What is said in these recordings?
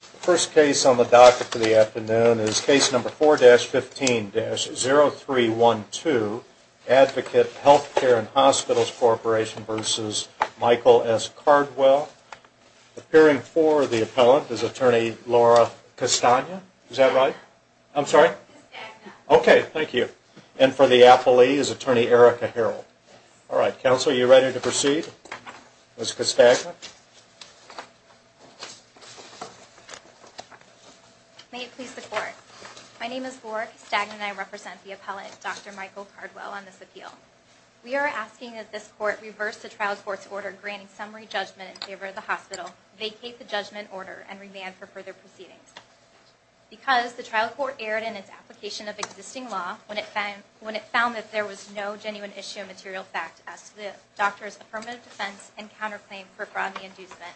The first case on the docket for the afternoon is Case No. 4-15-0312, Advocate Health Care and Hospitals Corporation v. Michael S. Cardwell. Appearing for the appellant is Attorney Laura Castagna. Is that right? I'm sorry. Castagna. Okay, thank you. And for the appellee is Attorney Erica Harrell. All right. Counsel, are you ready to proceed? Ms. Castagna? May it please the Court. My name is Laura Castagna and I represent the appellant, Dr. Michael Cardwell, on this appeal. We are asking that this Court reverse the trial court's order granting summary judgment in favor of the hospital, vacate the judgment order, and remand for further proceedings. Because the trial court erred in its application of existing law when it found that there was no genuine issue of material fact as to the doctor's affirmative defense and counterclaim for fraud and inducement.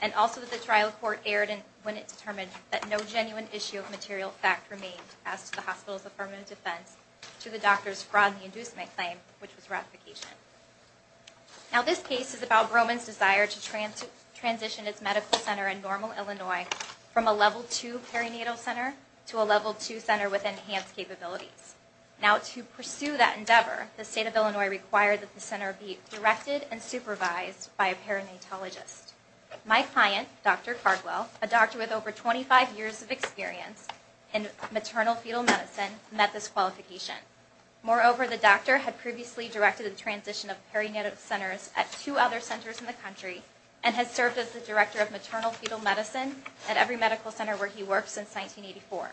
And also that the trial court erred when it determined that no genuine issue of material fact remained as to the hospital's affirmative defense to the doctor's fraud and inducement claim, which was ratification. Now this case is about Broman's desire to transition its medical center in Normal, Illinois from a Level II center with enhanced capabilities. Now to pursue that endeavor, the State of Illinois required that the center be directed and supervised by a perinatologist. My client, Dr. Cardwell, a doctor with over 25 years of experience in maternal-fetal medicine met this qualification. Moreover, the doctor had previously directed the transition of perinatal centers at two other centers in the country and has served as the director of maternal-fetal medicine at every medical center where he worked since 1984.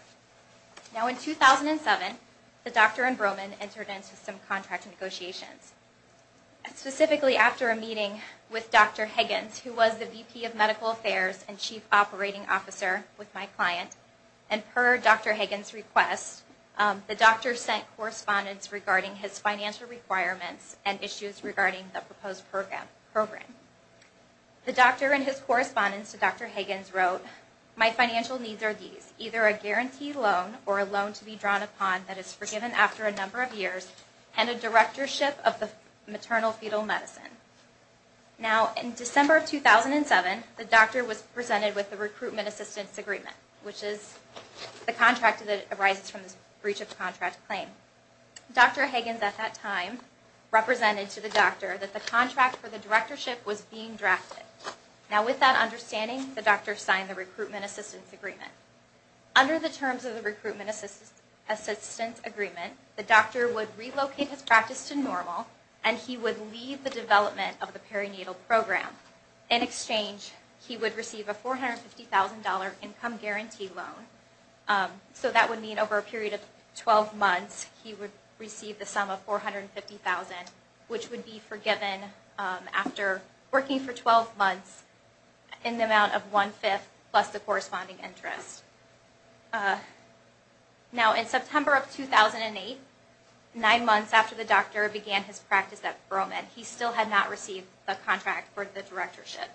Now in 2007, the doctor and Broman entered into some contract negotiations. Specifically after a meeting with Dr. Higgins, who was the VP of Medical Affairs and Chief Operating Officer with my client, and per Dr. Higgins' request, the doctor sent correspondence regarding his financial requirements and issues regarding the proposed program. The doctor in his correspondence to Dr. Higgins wrote, my financial needs are these, either a guaranteed loan or a loan to be drawn upon that is forgiven after a number of years and a directorship of the maternal-fetal medicine. Now in December of 2007, the doctor was presented with the Recruitment Assistance Agreement, which is the contract that arises from this breach of contract claim. Dr. Higgins at that time represented to the doctor that the contract for the directorship was being drafted. Now with that understanding, the doctor signed the Recruitment Assistance Agreement. Under the terms of the Recruitment Assistance Agreement, the doctor would relocate his practice to normal and he would lead the development of the perinatal program. In exchange, he would receive a $450,000 income guarantee loan, so that would mean over a period of 12 months he would receive the sum of $450,000, which would be forgiven after working for 12 months in the amount of one-fifth plus the corresponding interest. Now in September of 2008, nine months after the doctor began his practice at Burl Med, he still had not received the contract for the directorship.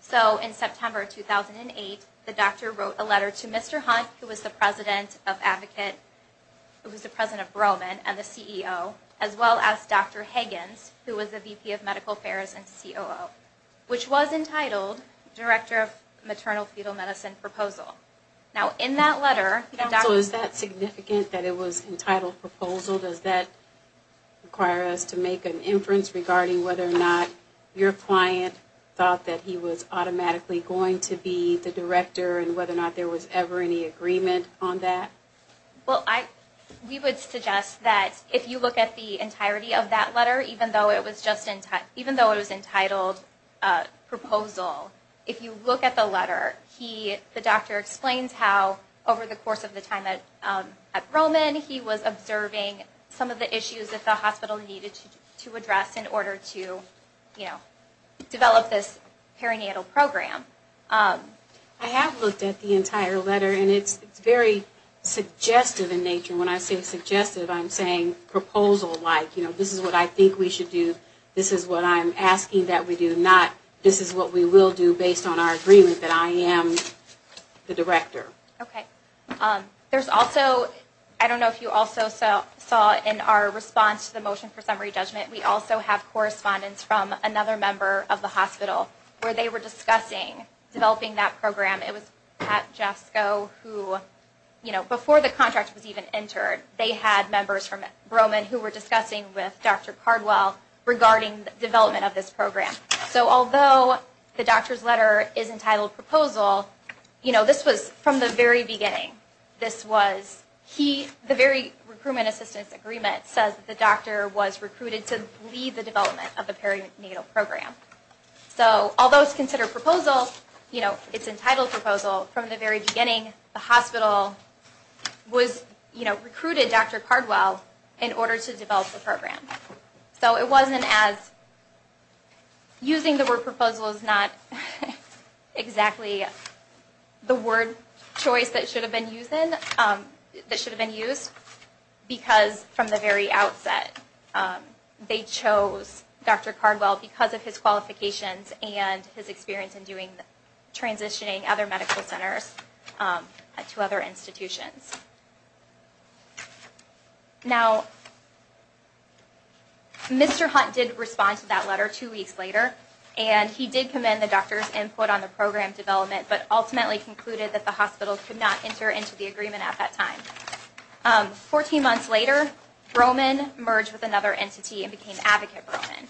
So in September of 2008, the doctor wrote a letter to Mr. Hunt, who was the president of Burl Med and the CEO, as well as Dr. Higgins, who was the VP of Medical Affairs and COO, which was entitled Director of Maternal-Fetal Medicine Proposal. Now in that letter, the doctor... So is that significant that it was entitled Proposal? Does that require us to make an inference regarding whether or not your client thought that he was automatically going to be the director and whether or not there was ever any agreement on that? Well, we would suggest that if you look at the entirety of that letter, even though it was entitled Proposal, if you look at the letter, the doctor explains how over the course of the time at Burl Med, he was observing some of the issues that the hospital needed to address in order to develop this perinatal program. I have looked at the entire letter and it's very suggestive in nature. When I say suggestive, I'm saying proposal-like. You know, this is what I think we should do, this is what I'm asking that we do, not this is what we will do based on our agreement that I am the director. Okay. There's also, I don't know if you also saw in our response to the motion for summary judgment, we also have correspondence from another member of the hospital where they were discussing developing that program. It was Pat Jasko who, you know, before the contract was even entered, they had members from Burl Med who were discussing with Dr. Cardwell regarding development of this program. So although the doctor's letter is entitled Proposal, you know, this was from the very beginning. This was, he, the very recruitment assistance agreement says the doctor was recruited to lead the development of the perinatal program. So although it's considered Proposal, you know, it's entitled Proposal, from the very beginning the hospital was, you know, recruited Dr. Cardwell in order to develop the program. So it wasn't as, using the word Proposal is not exactly the word choice that should have been used in, that should have been used because from the very outset they chose Dr. Cardwell because of his qualifications and his experience in doing, transitioning other medical centers to other institutions. Now, Mr. Hunt did respond to that letter two weeks later, and he did commend the doctor's input on the program development, but ultimately concluded that the hospital could not enter into the agreement at that time. Fourteen months later, Roman merged with another entity and became Advocate Roman.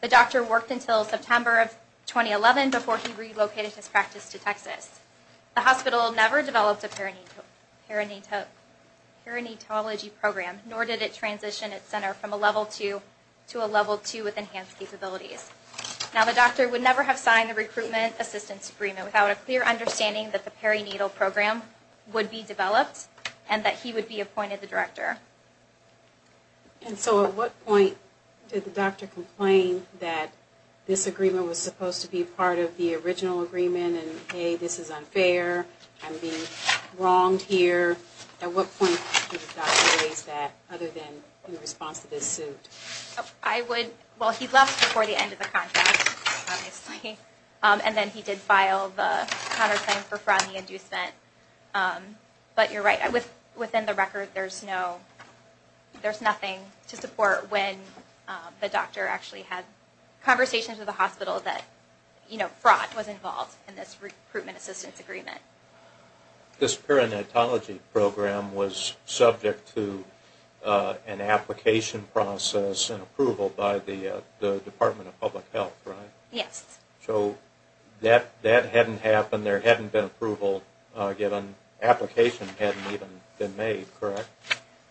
The doctor worked until September of 2011 before he relocated his practice to Texas. The hospital never developed a perinatology program, nor did it transition its center from a level two to a level two with enhanced capabilities. Now, the doctor would never have signed the recruitment assistance agreement without a clear understanding that the perinatal program would be developed and that he would be appointed the director. And so at what point did the doctor complain that this agreement was supposed to be part of the original agreement, and, hey, this is unfair, I'm being wronged here? At what point did the doctor raise that other than in response to this suit? I would, well, he left before the end of the contract, obviously, and then he did file the counter record. There's no, there's nothing to support when the doctor actually had conversations with the hospital that, you know, fraud was involved in this recruitment assistance agreement. This perinatology program was subject to an application process and approval by the Department of Public Health, right? Yes. So that hadn't happened, there hadn't been approval given, application hadn't even been made, correct?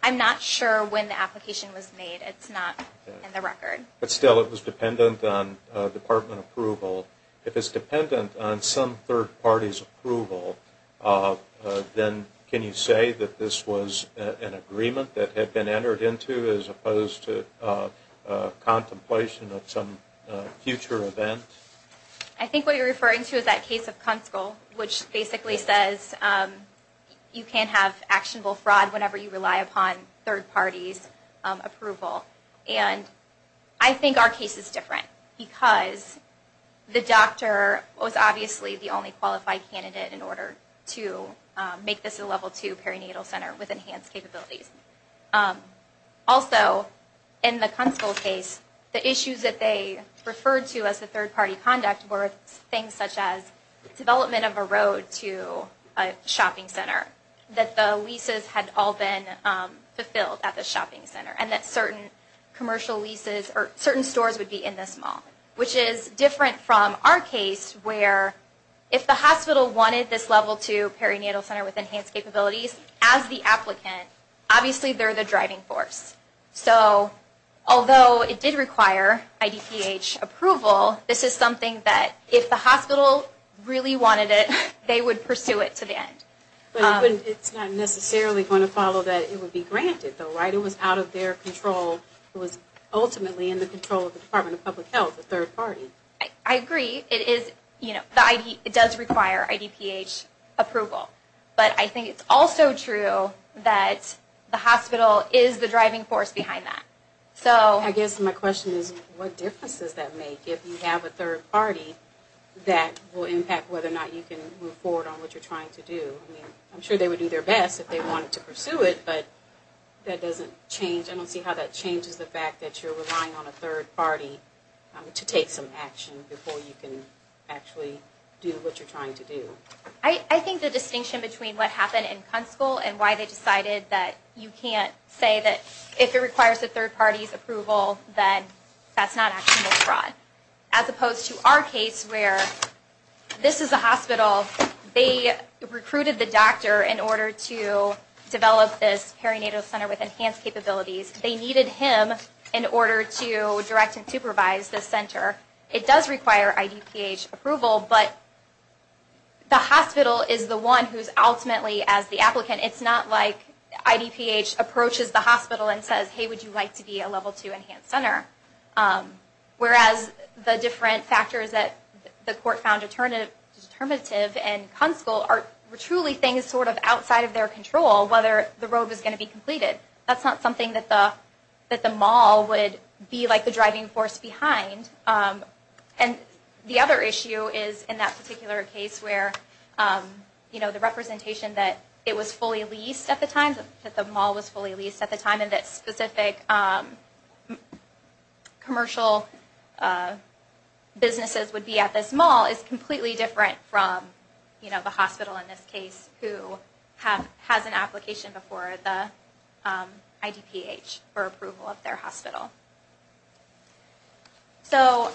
I'm not sure when the application was made, it's not in the record. But still it was dependent on department approval. If it's dependent on some third party's approval, then can you say that this was an agreement that had been entered into as opposed to contemplation of some future event? I think what you're referring to is that case of Kunskill, which basically says you can't have actionable fraud whenever you rely upon third party's approval. And I think our case is different because the doctor was obviously the only qualified candidate in order to make this a level two perinatal center with enhanced capabilities. Also, in the Kunskill case, the issues that they referred to as the third party conduct were things such as development of a road to a shopping center, that the leases had all been fulfilled at the shopping center, and that certain commercial leases or certain stores would be in this mall, which is different from our case where if the hospital wanted this level two perinatal center with enhanced capabilities as the applicant, obviously they're the driving force. So although it did require IDPH approval, this is something that if the hospital really wanted it, they would pursue it to the end. But it's not necessarily going to follow that it would be granted, right? It was out of their control. It was ultimately in the control of the Department of Public Health, the third party. I agree. It does require IDPH approval. But I think it's also true that the hospital is the driving force behind that. So I guess my question is what difference does that make if you have a third party that will impact whether or not you can move forward on what you're trying to do? I'm sure they would do their best if they wanted to pursue it, but that doesn't change. I don't see how that changes the fact that you're relying on a third party to take some action before you can actually do what you're trying to do. I think the distinction between what happened in Kunskil and why they decided that you can't say that if it requires a third party's approval, then that's not actionable fraud. As opposed to our case where this is a hospital, they recruited the doctor in order to develop this center. They recruited him in order to direct and supervise this center. It does require IDPH approval, but the hospital is the one who's ultimately as the applicant. It's not like IDPH approaches the hospital and says, hey, would you like to be a Level 2 Enhanced Center? Whereas the different factors that the court found determinative in Kunskil were truly things sort of outside of their control, whether the road was going to be completed. That's not something that the mall would be the driving force behind. The other issue is in that particular case where the representation that it was fully leased at the time, that the mall was fully leased at the time, and that specific commercial businesses would be at this mall is completely different from the hospital in this case who has an application before the IDPH for approval of their hospital. So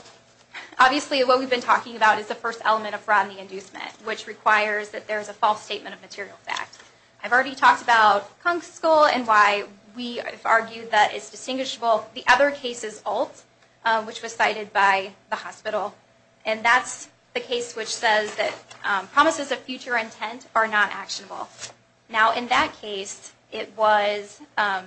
obviously what we've been talking about is the first element of fraud and the inducement, which requires that there's a false statement of material fact. I've already talked about Kunskil and why we have argued that it's distinguishable. The other case is Alt, which was cited by the hospital, and that's the case which says that promises of future intent are not actionable. Now in that case, the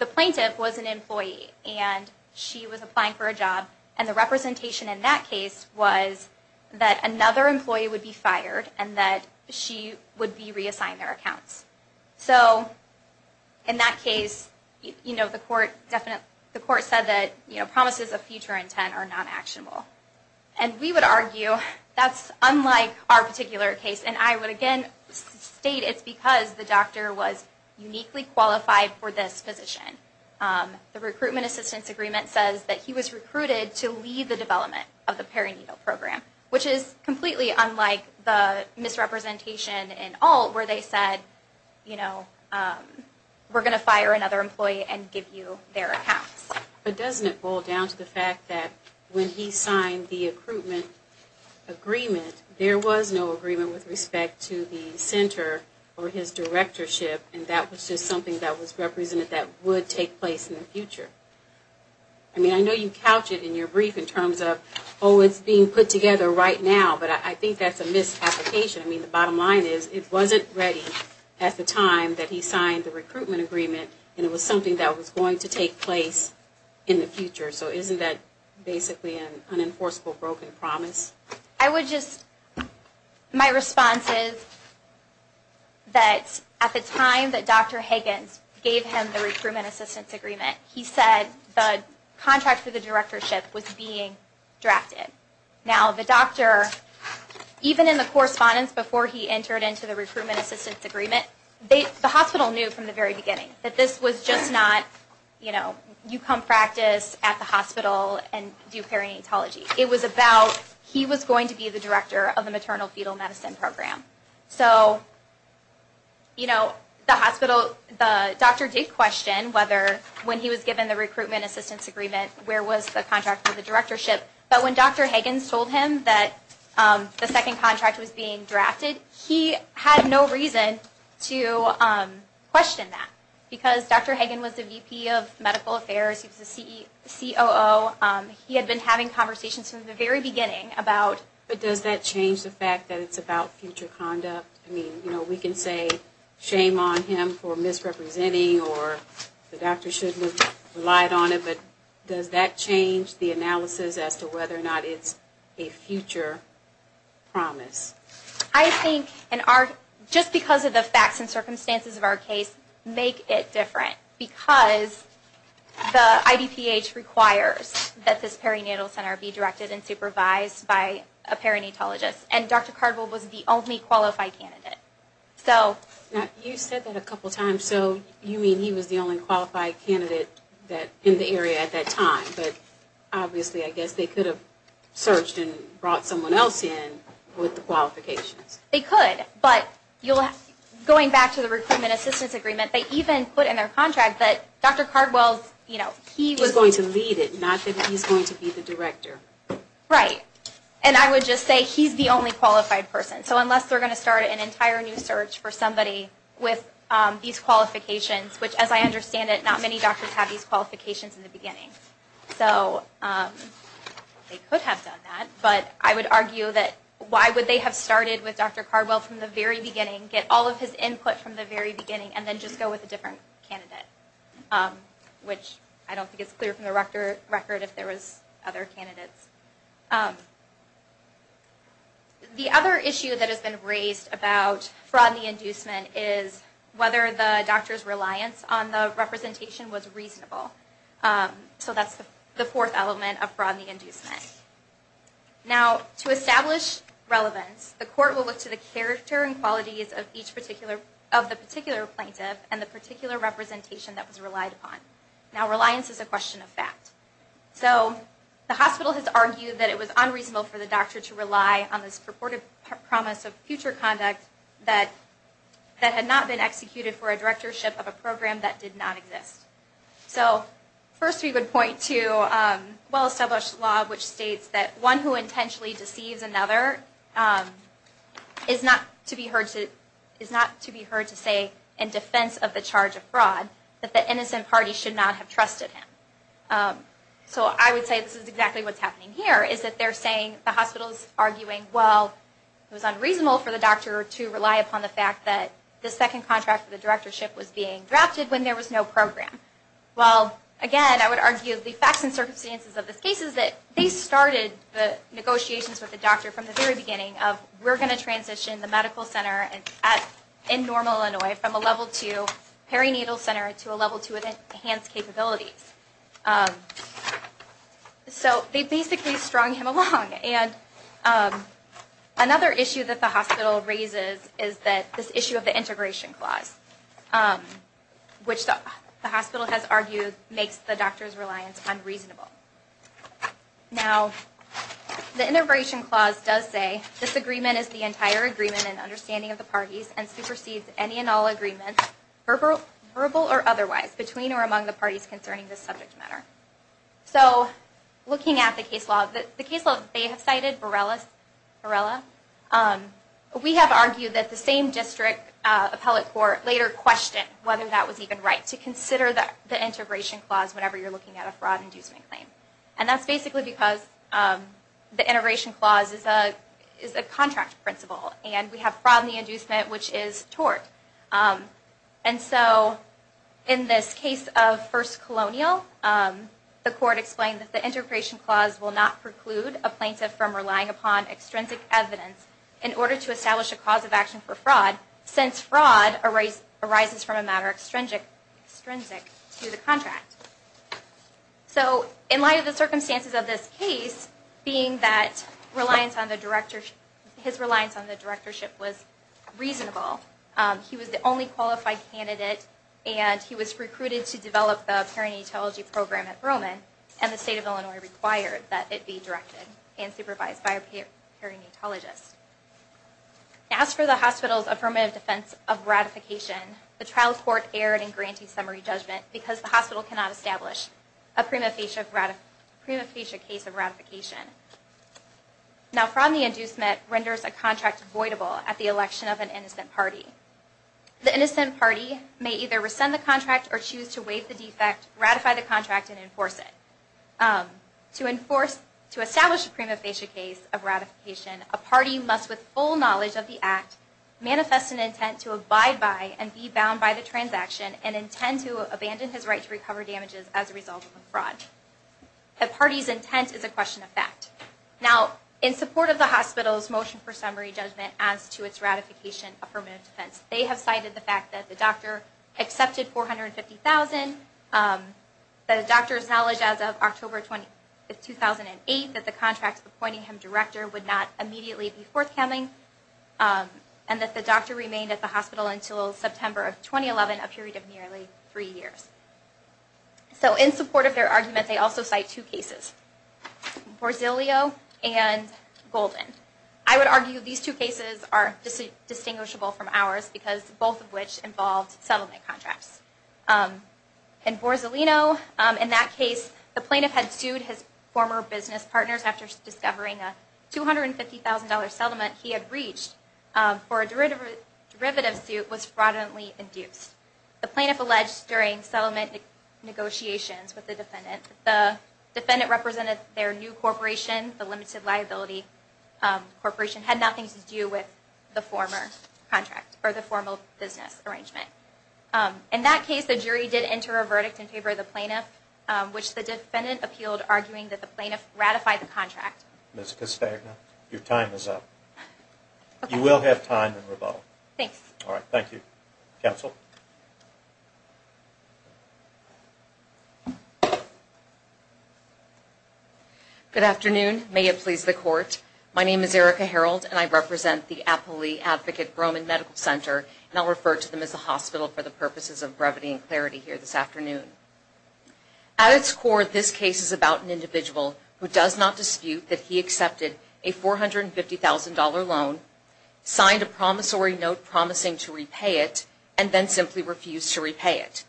plaintiff was an employee and she was applying for a job, and the representation in that case was that another employee would be fired and that she would be reassigned their accounts. So in that case, the court said that promises of future intent are not actionable. And we would argue that's unlike our particular case, and I would again state it's because the doctor was uniquely qualified for this position. The recruitment assistance agreement says that he was recruited to lead the development of the perinatal program, which is completely unlike the misrepresentation in Alt where they said, you know, we're going to fire another employee and give you their accounts. But doesn't it boil down to the fact that when he signed the recruitment agreement, there was no agreement with respect to the center or his directorship, and that was just something that was represented that would take place in the future? I mean, I know you couch it in your brief in terms of, oh, it's being put together right now, but I think that's a misapplication. I mean, the bottom line is it wasn't ready at the time that he was going to take place in the future. So isn't that basically an unenforceable broken promise? I would just, my response is that at the time that Dr. Higgins gave him the recruitment assistance agreement, he said the contract for the directorship was being drafted. Now the doctor, even in the correspondence before he entered into the recruitment assistance agreement, the hospital knew from the very beginning that this was just not, you know, you come practice at the hospital and do perinatology. It was about he was going to be the director of the maternal fetal medicine program. So, you know, the hospital, the doctor did question whether when he was given the recruitment assistance agreement, where was the contract for the directorship. But when Dr. Higgins told him that the second contract was being drafted, the doctor did not want to question that. Because Dr. Higgins was the VP of medical affairs, he was the COO, he had been having conversations from the very beginning about But does that change the fact that it's about future conduct? I mean, you know, we can say shame on him for misrepresenting or the doctor shouldn't have relied on it, but does that change the analysis as to whether or not it's a future promise? I think, just because of the facts and circumstances of our case, make it different. Because the IDPH requires that this perinatal center be directed and supervised by a perinatologist. And Dr. Cardwell was the only qualified candidate. Now, you said that a couple times, so you mean he was the only qualified candidate in the area at that time. But obviously, I guess they could have searched and brought someone else in with the qualifications. They could, but going back to the recruitment assistance agreement, they even put in their contract that Dr. Cardwell, you know, he was going to lead it, not that he's going to be the director. Right. And I would just say he's the only qualified person. So unless they're going to start an entire new search for somebody with these qualifications, which as I understand it, not many doctors have these qualifications in the beginning. So they could have done that. But I would argue that why would they have started with Dr. Cardwell from the very beginning, get all of his input from the very beginning, and then just go with a different candidate? Which I don't think is clear from the record if there was other candidates. The other issue that has been raised about fraud and the inducement is whether the doctor's reliance on the representation was reasonable. So that's the fourth element of fraud and inducement. Now to establish relevance, the court will look to the character and qualities of each particular, of the particular plaintiff and the particular representation that was relied upon. Now reliance is a question of fact. So the hospital has argued that it was unreasonable for the doctor to rely on this purported promise of future conduct that had not been executed for a directorship of a program that did not exist. So first we would point to well-established law which states that one who intentionally deceives another is not to be heard to say, in defense of the charge of fraud, that the innocent party should not have trusted him. So I would say this is exactly what's happening here, is that they're saying, the hospital is arguing, well, it was unreasonable for the doctor to rely upon the fact that the second contract for the directorship was being a program. Well, again, I would argue the facts and circumstances of this case is that they started the negotiations with the doctor from the very beginning of, we're going to transition the medical center in normal Illinois from a level two perinatal center to a level two with enhanced capabilities. So they basically strung him along. And another issue that the hospital has argued makes the doctor's reliance unreasonable. Now, the integration clause does say, this agreement is the entire agreement and understanding of the parties and supersedes any and all agreements, verbal or otherwise, between or among the parties concerning this subject matter. So looking at the case law, the case law that they have cited, Borrella, we have argued that the same district appellate court later questioned whether that was even right to consider the integration clause whenever you're looking at a fraud inducement claim. And that's basically because the integration clause is a contract principle, and we have fraud in the inducement, which is tort. And so in this case of First Colonial, the court explained that the integration clause will not preclude a plaintiff from relying upon extrinsic evidence in order to establish a cause of action for fraud, since fraud arises from a matter extrinsic to the contract. So in light of the circumstances of this case, being that his reliance on the directorship was reasonable, he was the only qualified candidate, and he was recruited to develop the perinatology program at Roman, and the state of Illinois required that it be directed and supervised by a perinatologist. As for the hospital's affirmative defense of ratification, the trial court erred in grantee summary judgment because the hospital cannot establish a prima facie case of ratification. Now fraud in the inducement renders a contract voidable at the election of an innocent party. The innocent party may either rescind the contract or choose to waive the defect, ratify the contract, and enforce it. To establish a prima facie case of ratification, a party must, with full knowledge of the act, manifest an intent to abide by and be bound by the transaction and intend to abandon his right to recover damages as a result of the fraud. The party's intent is a question of fact. Now, in support of the hospital's motion for summary judgment as to its ratification of affirmative defense, they have cited the fact that the doctor accepted $450,000, the doctor's knowledge as of October 20, 2008, that the doctor was a member of the Board of Health and Human Services, and that the doctor remained at the hospital until September of 2011, a period of nearly three years. So in support of their argument, they also cite two cases, Borzellino and Golden. I would argue these two cases are distinguishable from ours because both of which involved settlement contracts. In Borzellino, in that case, the plaintiff had sued his former business partners after discovering a $250,000 settlement he had breached for a derivative suit was fraudulently induced. The plaintiff alleged during settlement negotiations with the defendant that the defendant represented their new corporation, the Limited Liability Corporation, had nothing to do with the former contract or the formal business arrangement. In that case, the jury did enter a verdict in favor of the plaintiff, which the defendant appealed, arguing that the plaintiff ratified the contract. Ms. Castagna, your time is up. You will have time in rebuttal. Thank you. All right. Thank you. Counsel. Good afternoon. May it please the Court. My name is Erica Harreld, and I represent the Applee Advocate Broman Medical Center, and I'll refer to them as the hospital for the purposes of brevity and clarity here this afternoon. At its core, this case is about an individual who does not dispute that he accepted a $450,000 loan, signed a promissory note promising to repay it, and then simply refused to repay it.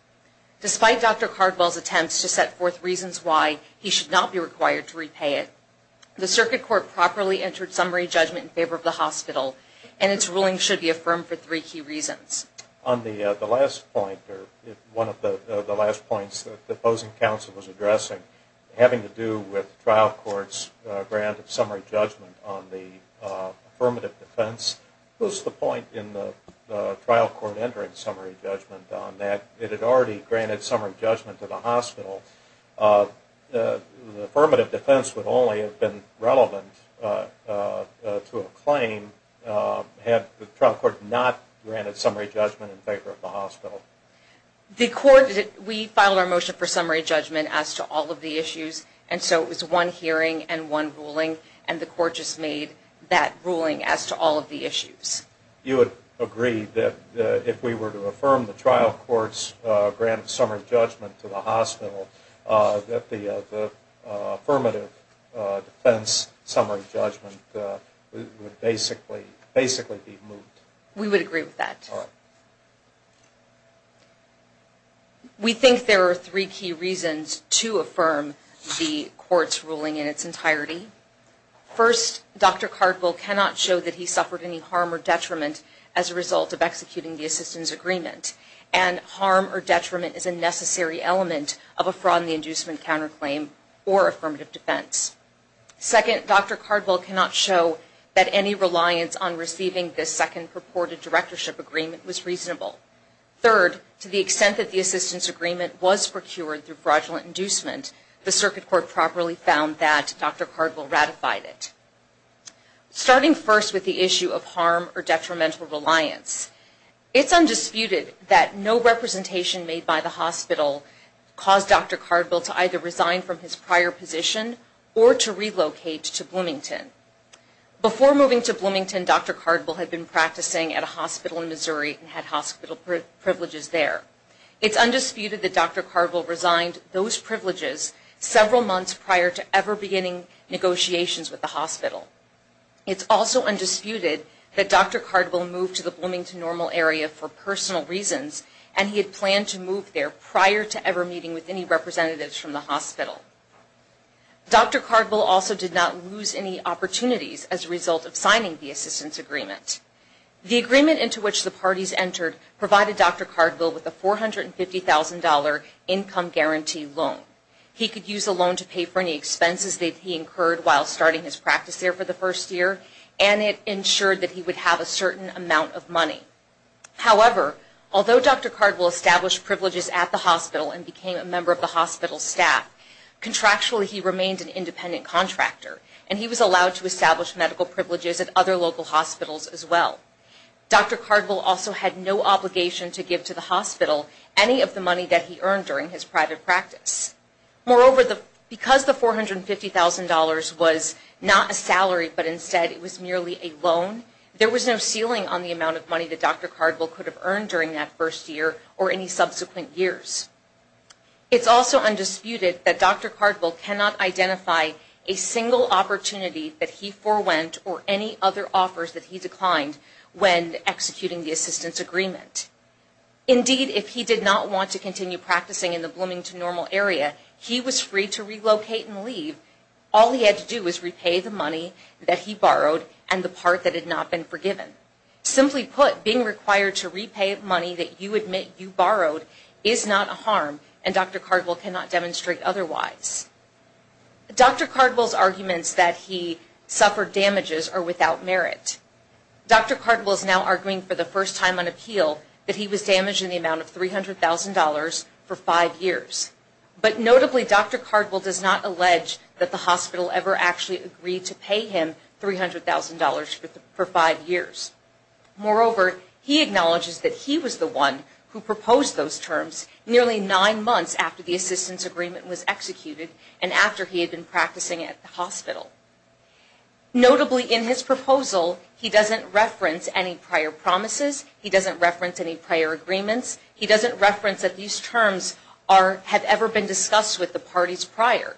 Despite Dr. Cardwell's attempts to set forth reasons why he should not be required to repay it, the Circuit Court properly entered summary judgment in favor of the hospital, and its ruling should be affirmed for three key reasons. On the last point, or one of the last points that the opposing counsel was addressing, having to do with the trial court's grant of summary judgment on the affirmative defense, what was the point in the trial court entering summary judgment on that? It had already granted summary judgment to the hospital. The affirmative defense would only have been relevant to a summary judgment in favor of the hospital. The court, we filed our motion for summary judgment as to all of the issues, and so it was one hearing and one ruling, and the court just made that ruling as to all of the issues. You would agree that if we were to affirm the trial court's grant of summary judgment to the hospital, that the affirmative defense summary judgment would basically be moot? We would agree with that. All right. We think there are three key reasons to affirm the court's ruling in its entirety. First, Dr. Cardwell cannot show that he suffered any harm or detriment as a result of executing the assistance agreement, and harm or detriment is a necessary element of a fraud in the inducement counterclaim or affirmative defense. Second, Dr. Cardwell cannot show that any reliance on receiving the second purported directorship agreement was reasonable. Third, to the extent that the assistance agreement was procured through fraudulent inducement, the circuit court properly found that Dr. Cardwell ratified it. Starting first with the issue of harm or detrimental reliance, it's undisputed that no representation made by the hospital caused Dr. Cardwell to either resign from his prior position or to relocate to Bloomington. Before moving to Bloomington, Dr. Cardwell had been practicing at a hospital in Missouri and had hospital privileges there. It's undisputed that Dr. Cardwell resigned those privileges several months prior to ever beginning negotiations with the hospital. It's also undisputed that Dr. Cardwell moved to the Bloomington Normal Area for personal reasons, and he had planned to move there prior to ever meeting with any hospital. Dr. Cardwell also did not lose any opportunities as a result of signing the assistance agreement. The agreement into which the parties entered provided Dr. Cardwell with a $450,000 income guarantee loan. He could use the loan to pay for any expenses that he incurred while starting his practice there for the first year, and it ensured that he would have a certain amount of money. However, although Dr. Cardwell established privileges at the hospital and became a hospital staff, contractually he remained an independent contractor, and he was allowed to establish medical privileges at other local hospitals as well. Dr. Cardwell also had no obligation to give to the hospital any of the money that he earned during his private practice. Moreover, because the $450,000 was not a salary, but instead it was merely a loan, there was no ceiling on the amount of money that Dr. Cardwell could have earned during that first year or any subsequent years. It's also undisputed that Dr. Cardwell cannot identify a single opportunity that he forewent or any other offers that he declined when executing the assistance agreement. Indeed, if he did not want to continue practicing in the Bloomington Normal Area, he was free to relocate and leave. All he had to do was repay the money that he borrowed and the part that had not been forgiven. Simply put, being required to repay money that you admit you borrowed is not a harm, and Dr. Cardwell cannot demonstrate otherwise. Dr. Cardwell's arguments that he suffered damages are without merit. Dr. Cardwell is now arguing for the first time on appeal that he was damaged in the amount of $300,000 for five years. But notably, Dr. Cardwell does not allege that the hospital ever actually agreed to pay him $300,000 for five years. Moreover, he acknowledges that he was the one who proposed those terms nearly nine months after the assistance agreement was executed and after he had been practicing at the hospital. Notably, in his proposal, he doesn't reference any prior promises. He doesn't reference any prior agreements. He doesn't reference that these terms have ever been discussed with the parties prior.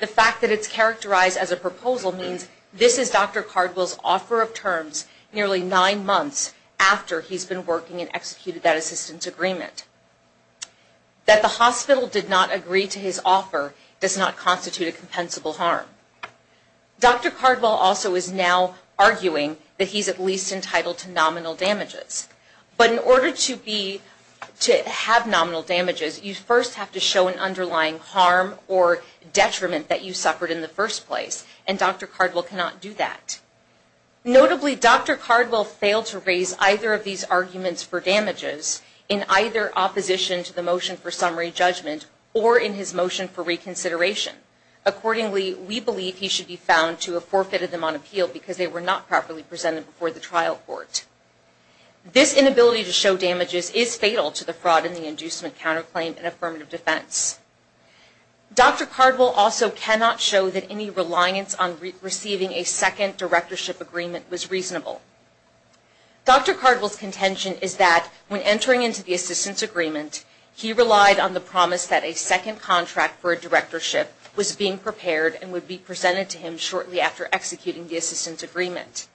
The fact that it's characterized as a proposal means this is Dr. Cardwell's offer of terms nearly nine months after he's been working and executed that assistance agreement. That the hospital did not agree to his offer does not constitute a compensable harm. Dr. Cardwell also is now arguing that he's at least entitled to nominal damages. But in order to have nominal damages, you first have to show an underlying harm or detriment that you suffered in the first place. And Dr. Cardwell cannot do that. Notably, Dr. Cardwell failed to raise either of these arguments for damages in either opposition to the motion for summary judgment or in his motion for reconsideration. Accordingly, we believe he should be found to have forfeited them on appeal because they were not properly presented before the trial court. This inability to show damages is fatal to the fraud and the inducement of counterclaim and affirmative defense. Dr. Cardwell also cannot show that any reliance on receiving a second directorship agreement was reasonable. Dr. Cardwell's contention is that when entering into the assistance agreement, he relied on the promise that a second contract for a directorship was being prepared and would be presented to him shortly after executing the assistance agreement.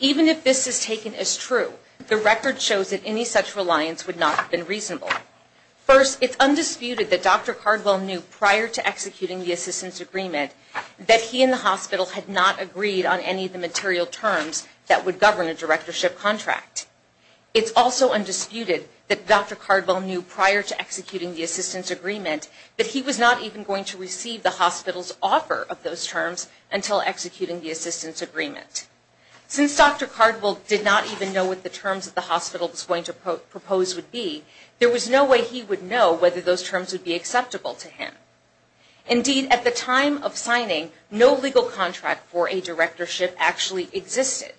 Even if this is taken as true, the record shows that any such reliance would not have been reasonable. First, it's undisputed that Dr. Cardwell knew prior to executing the assistance agreement that he and the hospital had not agreed on any of the material terms that would govern a directorship contract. It's also undisputed that Dr. Cardwell knew prior to executing the assistance agreement that he was not even going to receive the hospital's offer of those terms until executing the assistance agreement. Since Dr. Cardwell did not even know what the terms of the hospital was going to propose would be, there was no way he would know whether those terms would be acceptable to him. Indeed, at the time of signing, no legal contract for a directorship actually existed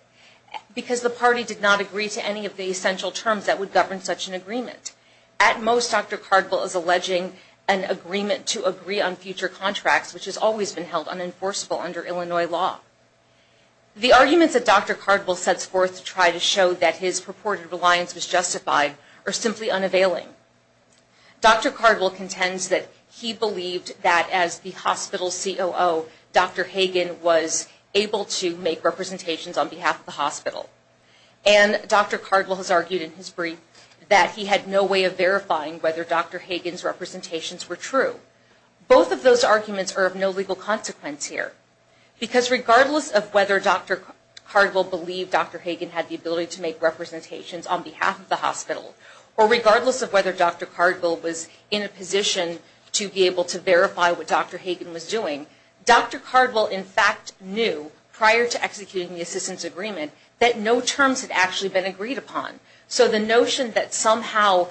because the party did not agree to any of the essential terms that would govern such an agreement. At most, Dr. Cardwell is alleging an agreement to agree on future contracts, which has always been held unenforceable under Illinois law. The arguments that Dr. Cardwell sets forth to try to show that his purported reliance was justified are simply unavailing. Dr. Cardwell contends that he believed that as the hospital COO, Dr. Hagen was able to make representations on behalf of the hospital. And Dr. Cardwell has argued in his brief that he had no way of verifying whether Dr. Hagen's representations were true. Both of those arguments are of no legal consequence here because regardless of whether Dr. Cardwell believed Dr. Hagen had the ability to make representations on behalf of the hospital or regardless of whether Dr. Cardwell was in a position to be able to verify what Dr. Hagen was doing, Dr. Cardwell in fact knew prior to executing the assistance agreement that no terms had actually been agreed upon. So the notion that somehow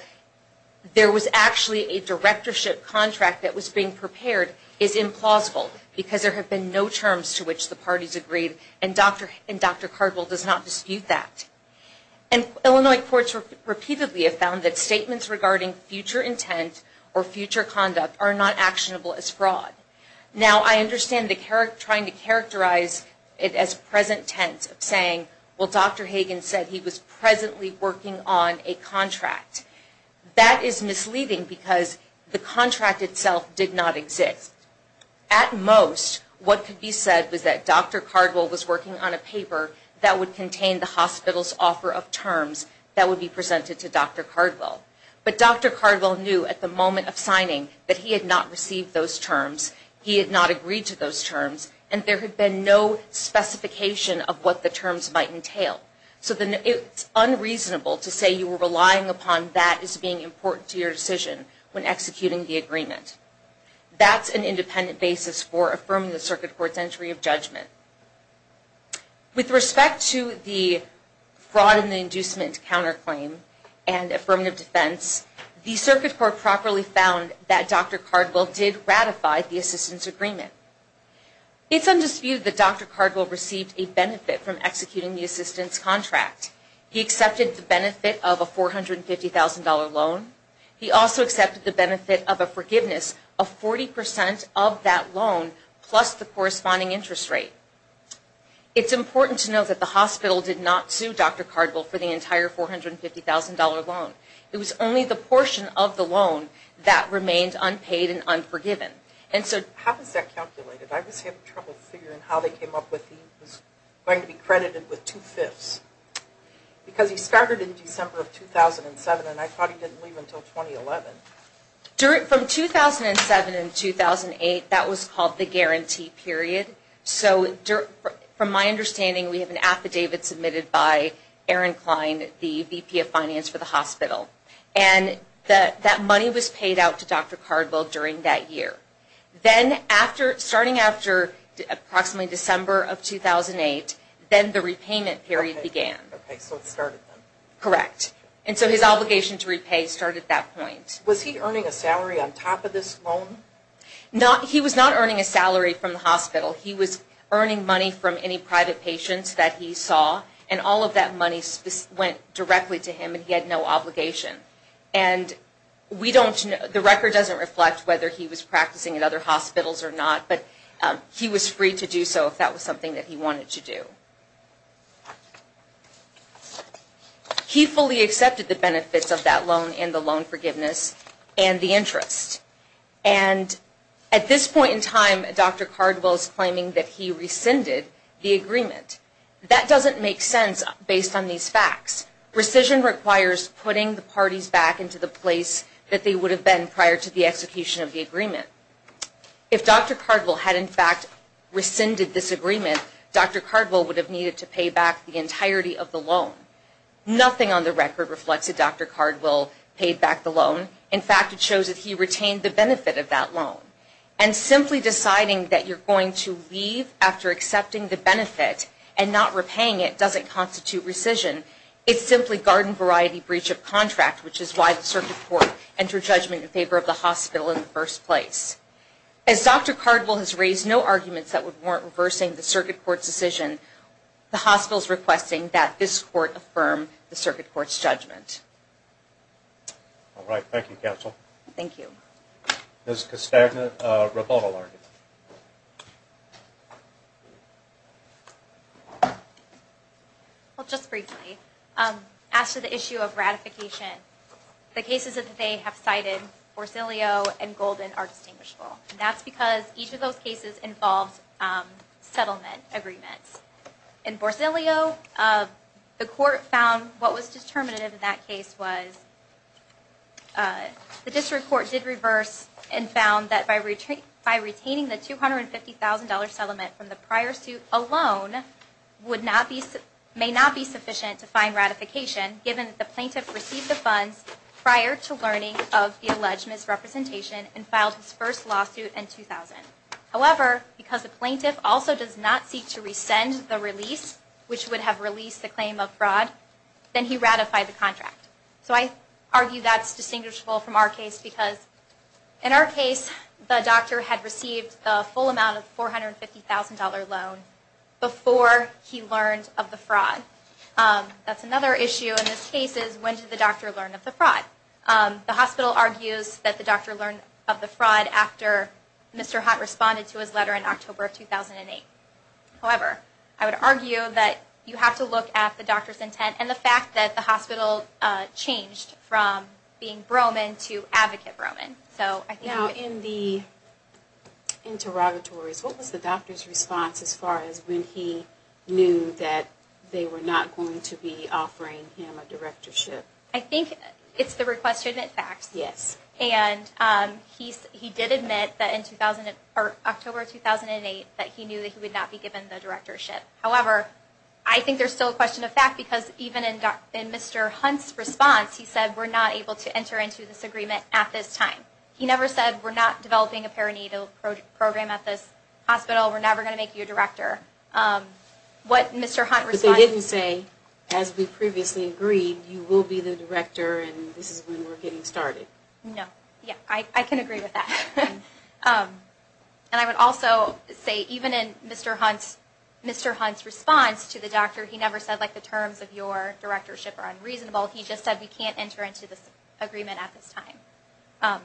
there was actually a directorship contract that was being prepared is implausible because there have been no terms to which the parties agreed and Dr. Cardwell does not dispute that. And Illinois courts repeatedly have found that statements regarding future intent or future conduct are not actionable as fraud. Now I understand trying to characterize it as present tense of saying, well Dr. Hagen said he was presently working on a contract. That is misleading because the contract itself did not exist. At most what could be said was that Dr. Cardwell was working on a paper that would contain the hospital's offer of terms that would be presented to Dr. Cardwell. But Dr. Cardwell knew at the moment of signing that he had not received those terms. He had not agreed to those terms and there had been no specification of what the terms might entail. So it's unreasonable to say you were relying upon that as being important to your decision when executing the agreement. That's an independent basis for affirming the circuit court's entry of judgment. With respect to the fraud and the inducement counterclaim and affirmative defense, the circuit court properly found that Dr. Cardwell did ratify the assistance agreement. It's undisputed that Dr. Cardwell received a benefit from executing the assistance contract. He accepted the benefit of a $450,000 loan. He also accepted the benefit of a forgiveness of 40% of that loan plus the corresponding interest rate. It's important to note that the hospital did not sue Dr. Cardwell for the entire $450,000 loan. It was only the portion of the loan that remained unpaid and unforgiven. How was that calculated? I was having trouble figuring how they came up with the, it was going to be credited with two-fifths. Because he started in December of 2007 and I thought he didn't leave until 2011. From 2007 and 2008, that was called the guarantee period. So from my understanding, we have an affidavit submitted by Aaron Klein, the VP of finance for the hospital. And that money was paid out to Dr. Cardwell during that year. Then after, starting after approximately December of 2008, then the repayment period began. Okay, so it started then. Correct. And so his obligation to repay started at that point. Was he earning a salary on top of this loan? He was not earning a salary from the hospital. He was earning money from any private patients that he saw. And all of that money went directly to him and he had no obligation. And we don't, the record doesn't reflect whether he was practicing at other hospitals or not. But he was free to do so if that was something that he wanted to do. He fully accepted the benefits of that loan and the loan forgiveness and the interest. And at this point in time, Dr. Cardwell is claiming that he rescinded the agreement. That doesn't make sense based on these facts. Rescission requires putting the parties back into the place that they would have been prior to the execution of the agreement. If Dr. Cardwell had in fact rescinded this agreement, Dr. Cardwell would have needed to pay back the entirety of the loan. Nothing on the record reflects that Dr. Cardwell paid back the loan. In fact, it shows that he retained the benefit of that loan. And simply deciding that you're going to leave after accepting the benefit and not repaying it doesn't constitute rescission. It's simply garden variety breach of contract, which is why the circuit court entered judgment in favor of the hospital in the first place. As Dr. Cardwell has raised no arguments that would warrant reversing the circuit court's decision, the hospital is requesting that this court affirm the circuit court's judgment. All right. Thank you, counsel. Thank you. Ms. Costagna, rebuttal. Well, just briefly, as to the issue of ratification, the cases that they have cited, Borsellio and Golden, are distinguishable. And that's because each of those cases involves settlement agreements. In Borsellio, the court found what was determinative in that case was the district court did reverse and found that by retaining the $250,000 settlement from the prior suit alone may not be sufficient to find ratification, given that the plaintiff received the funds prior to learning of the alleged misrepresentation and filed his first lawsuit in 2000. However, because the plaintiff also does not seek to rescind the release, which would have released the claim of fraud, then he ratified the contract. So I argue that's distinguishable from our case because in our case, the doctor had received a full amount of $450,000 loan before he learned of the fraud. That's another issue in this case is when did the doctor learn of the fraud? The hospital argues that the doctor learned of the fraud after Mr. Hott responded to his letter in October of 2008. However, I would argue that you have to look at the doctor's intent and the fact that the hospital changed from being Broman to Advocate Broman. Now, in the interrogatories, what was the doctor's response as far as when he knew that they were not going to be offering him a directorship? I think it's the request to admit facts. Yes. And he did admit that in October of 2008 that he knew that he would not be given the directorship. However, I think there's still a question of fact because even in Mr. Hunt's response, he said, we're not able to enter into this agreement at this time. He never said, we're not developing a perinatal program at this hospital. We're never going to make you a director. But they didn't say, as we previously agreed, you will be the director and this is when we're getting started. No. I can agree with that. And I would also say even in Mr. Hunt's response to the doctor, he never said the terms of your directorship are unreasonable. He just said we can't enter into this agreement at this time.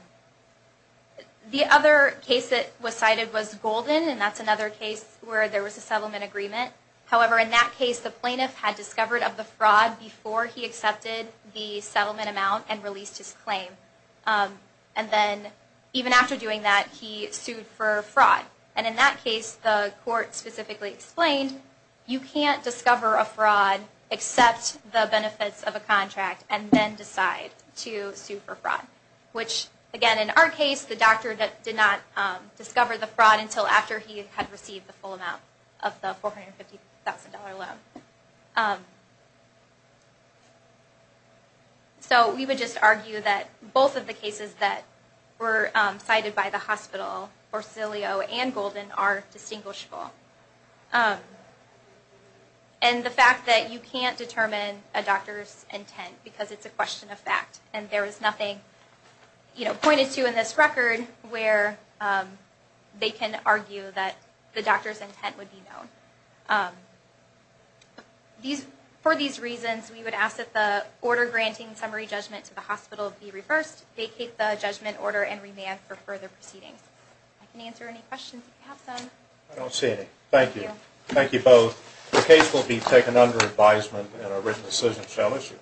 The other case that was cited was Golden, and that's another case where there was a settlement agreement. However, in that case the plaintiff had discovered of the fraud before he accepted the settlement amount and released his claim. And then even after doing that, he sued for fraud. And in that case, the court specifically explained you can't discover a fraud, accept the benefits of a contract, and then decide to sue for fraud. Which, again, in our case the doctor did not discover the fraud until after he had received the full amount of the $450,000 loan. So we would just argue that both of the cases that were cited by the hospital, Cilio and Golden, are distinguishable. And the fact that you can't determine a doctor's intent because it's a thing pointed to in this record where they can argue that the doctor's intent would be known. For these reasons, we would ask that the order granting summary judgment to the hospital be reversed, vacate the judgment order, and remand for further proceedings. I can answer any questions if you have some. I don't see any. Thank you. Thank you both. The case will be taken under advisement and a written decision shall issue.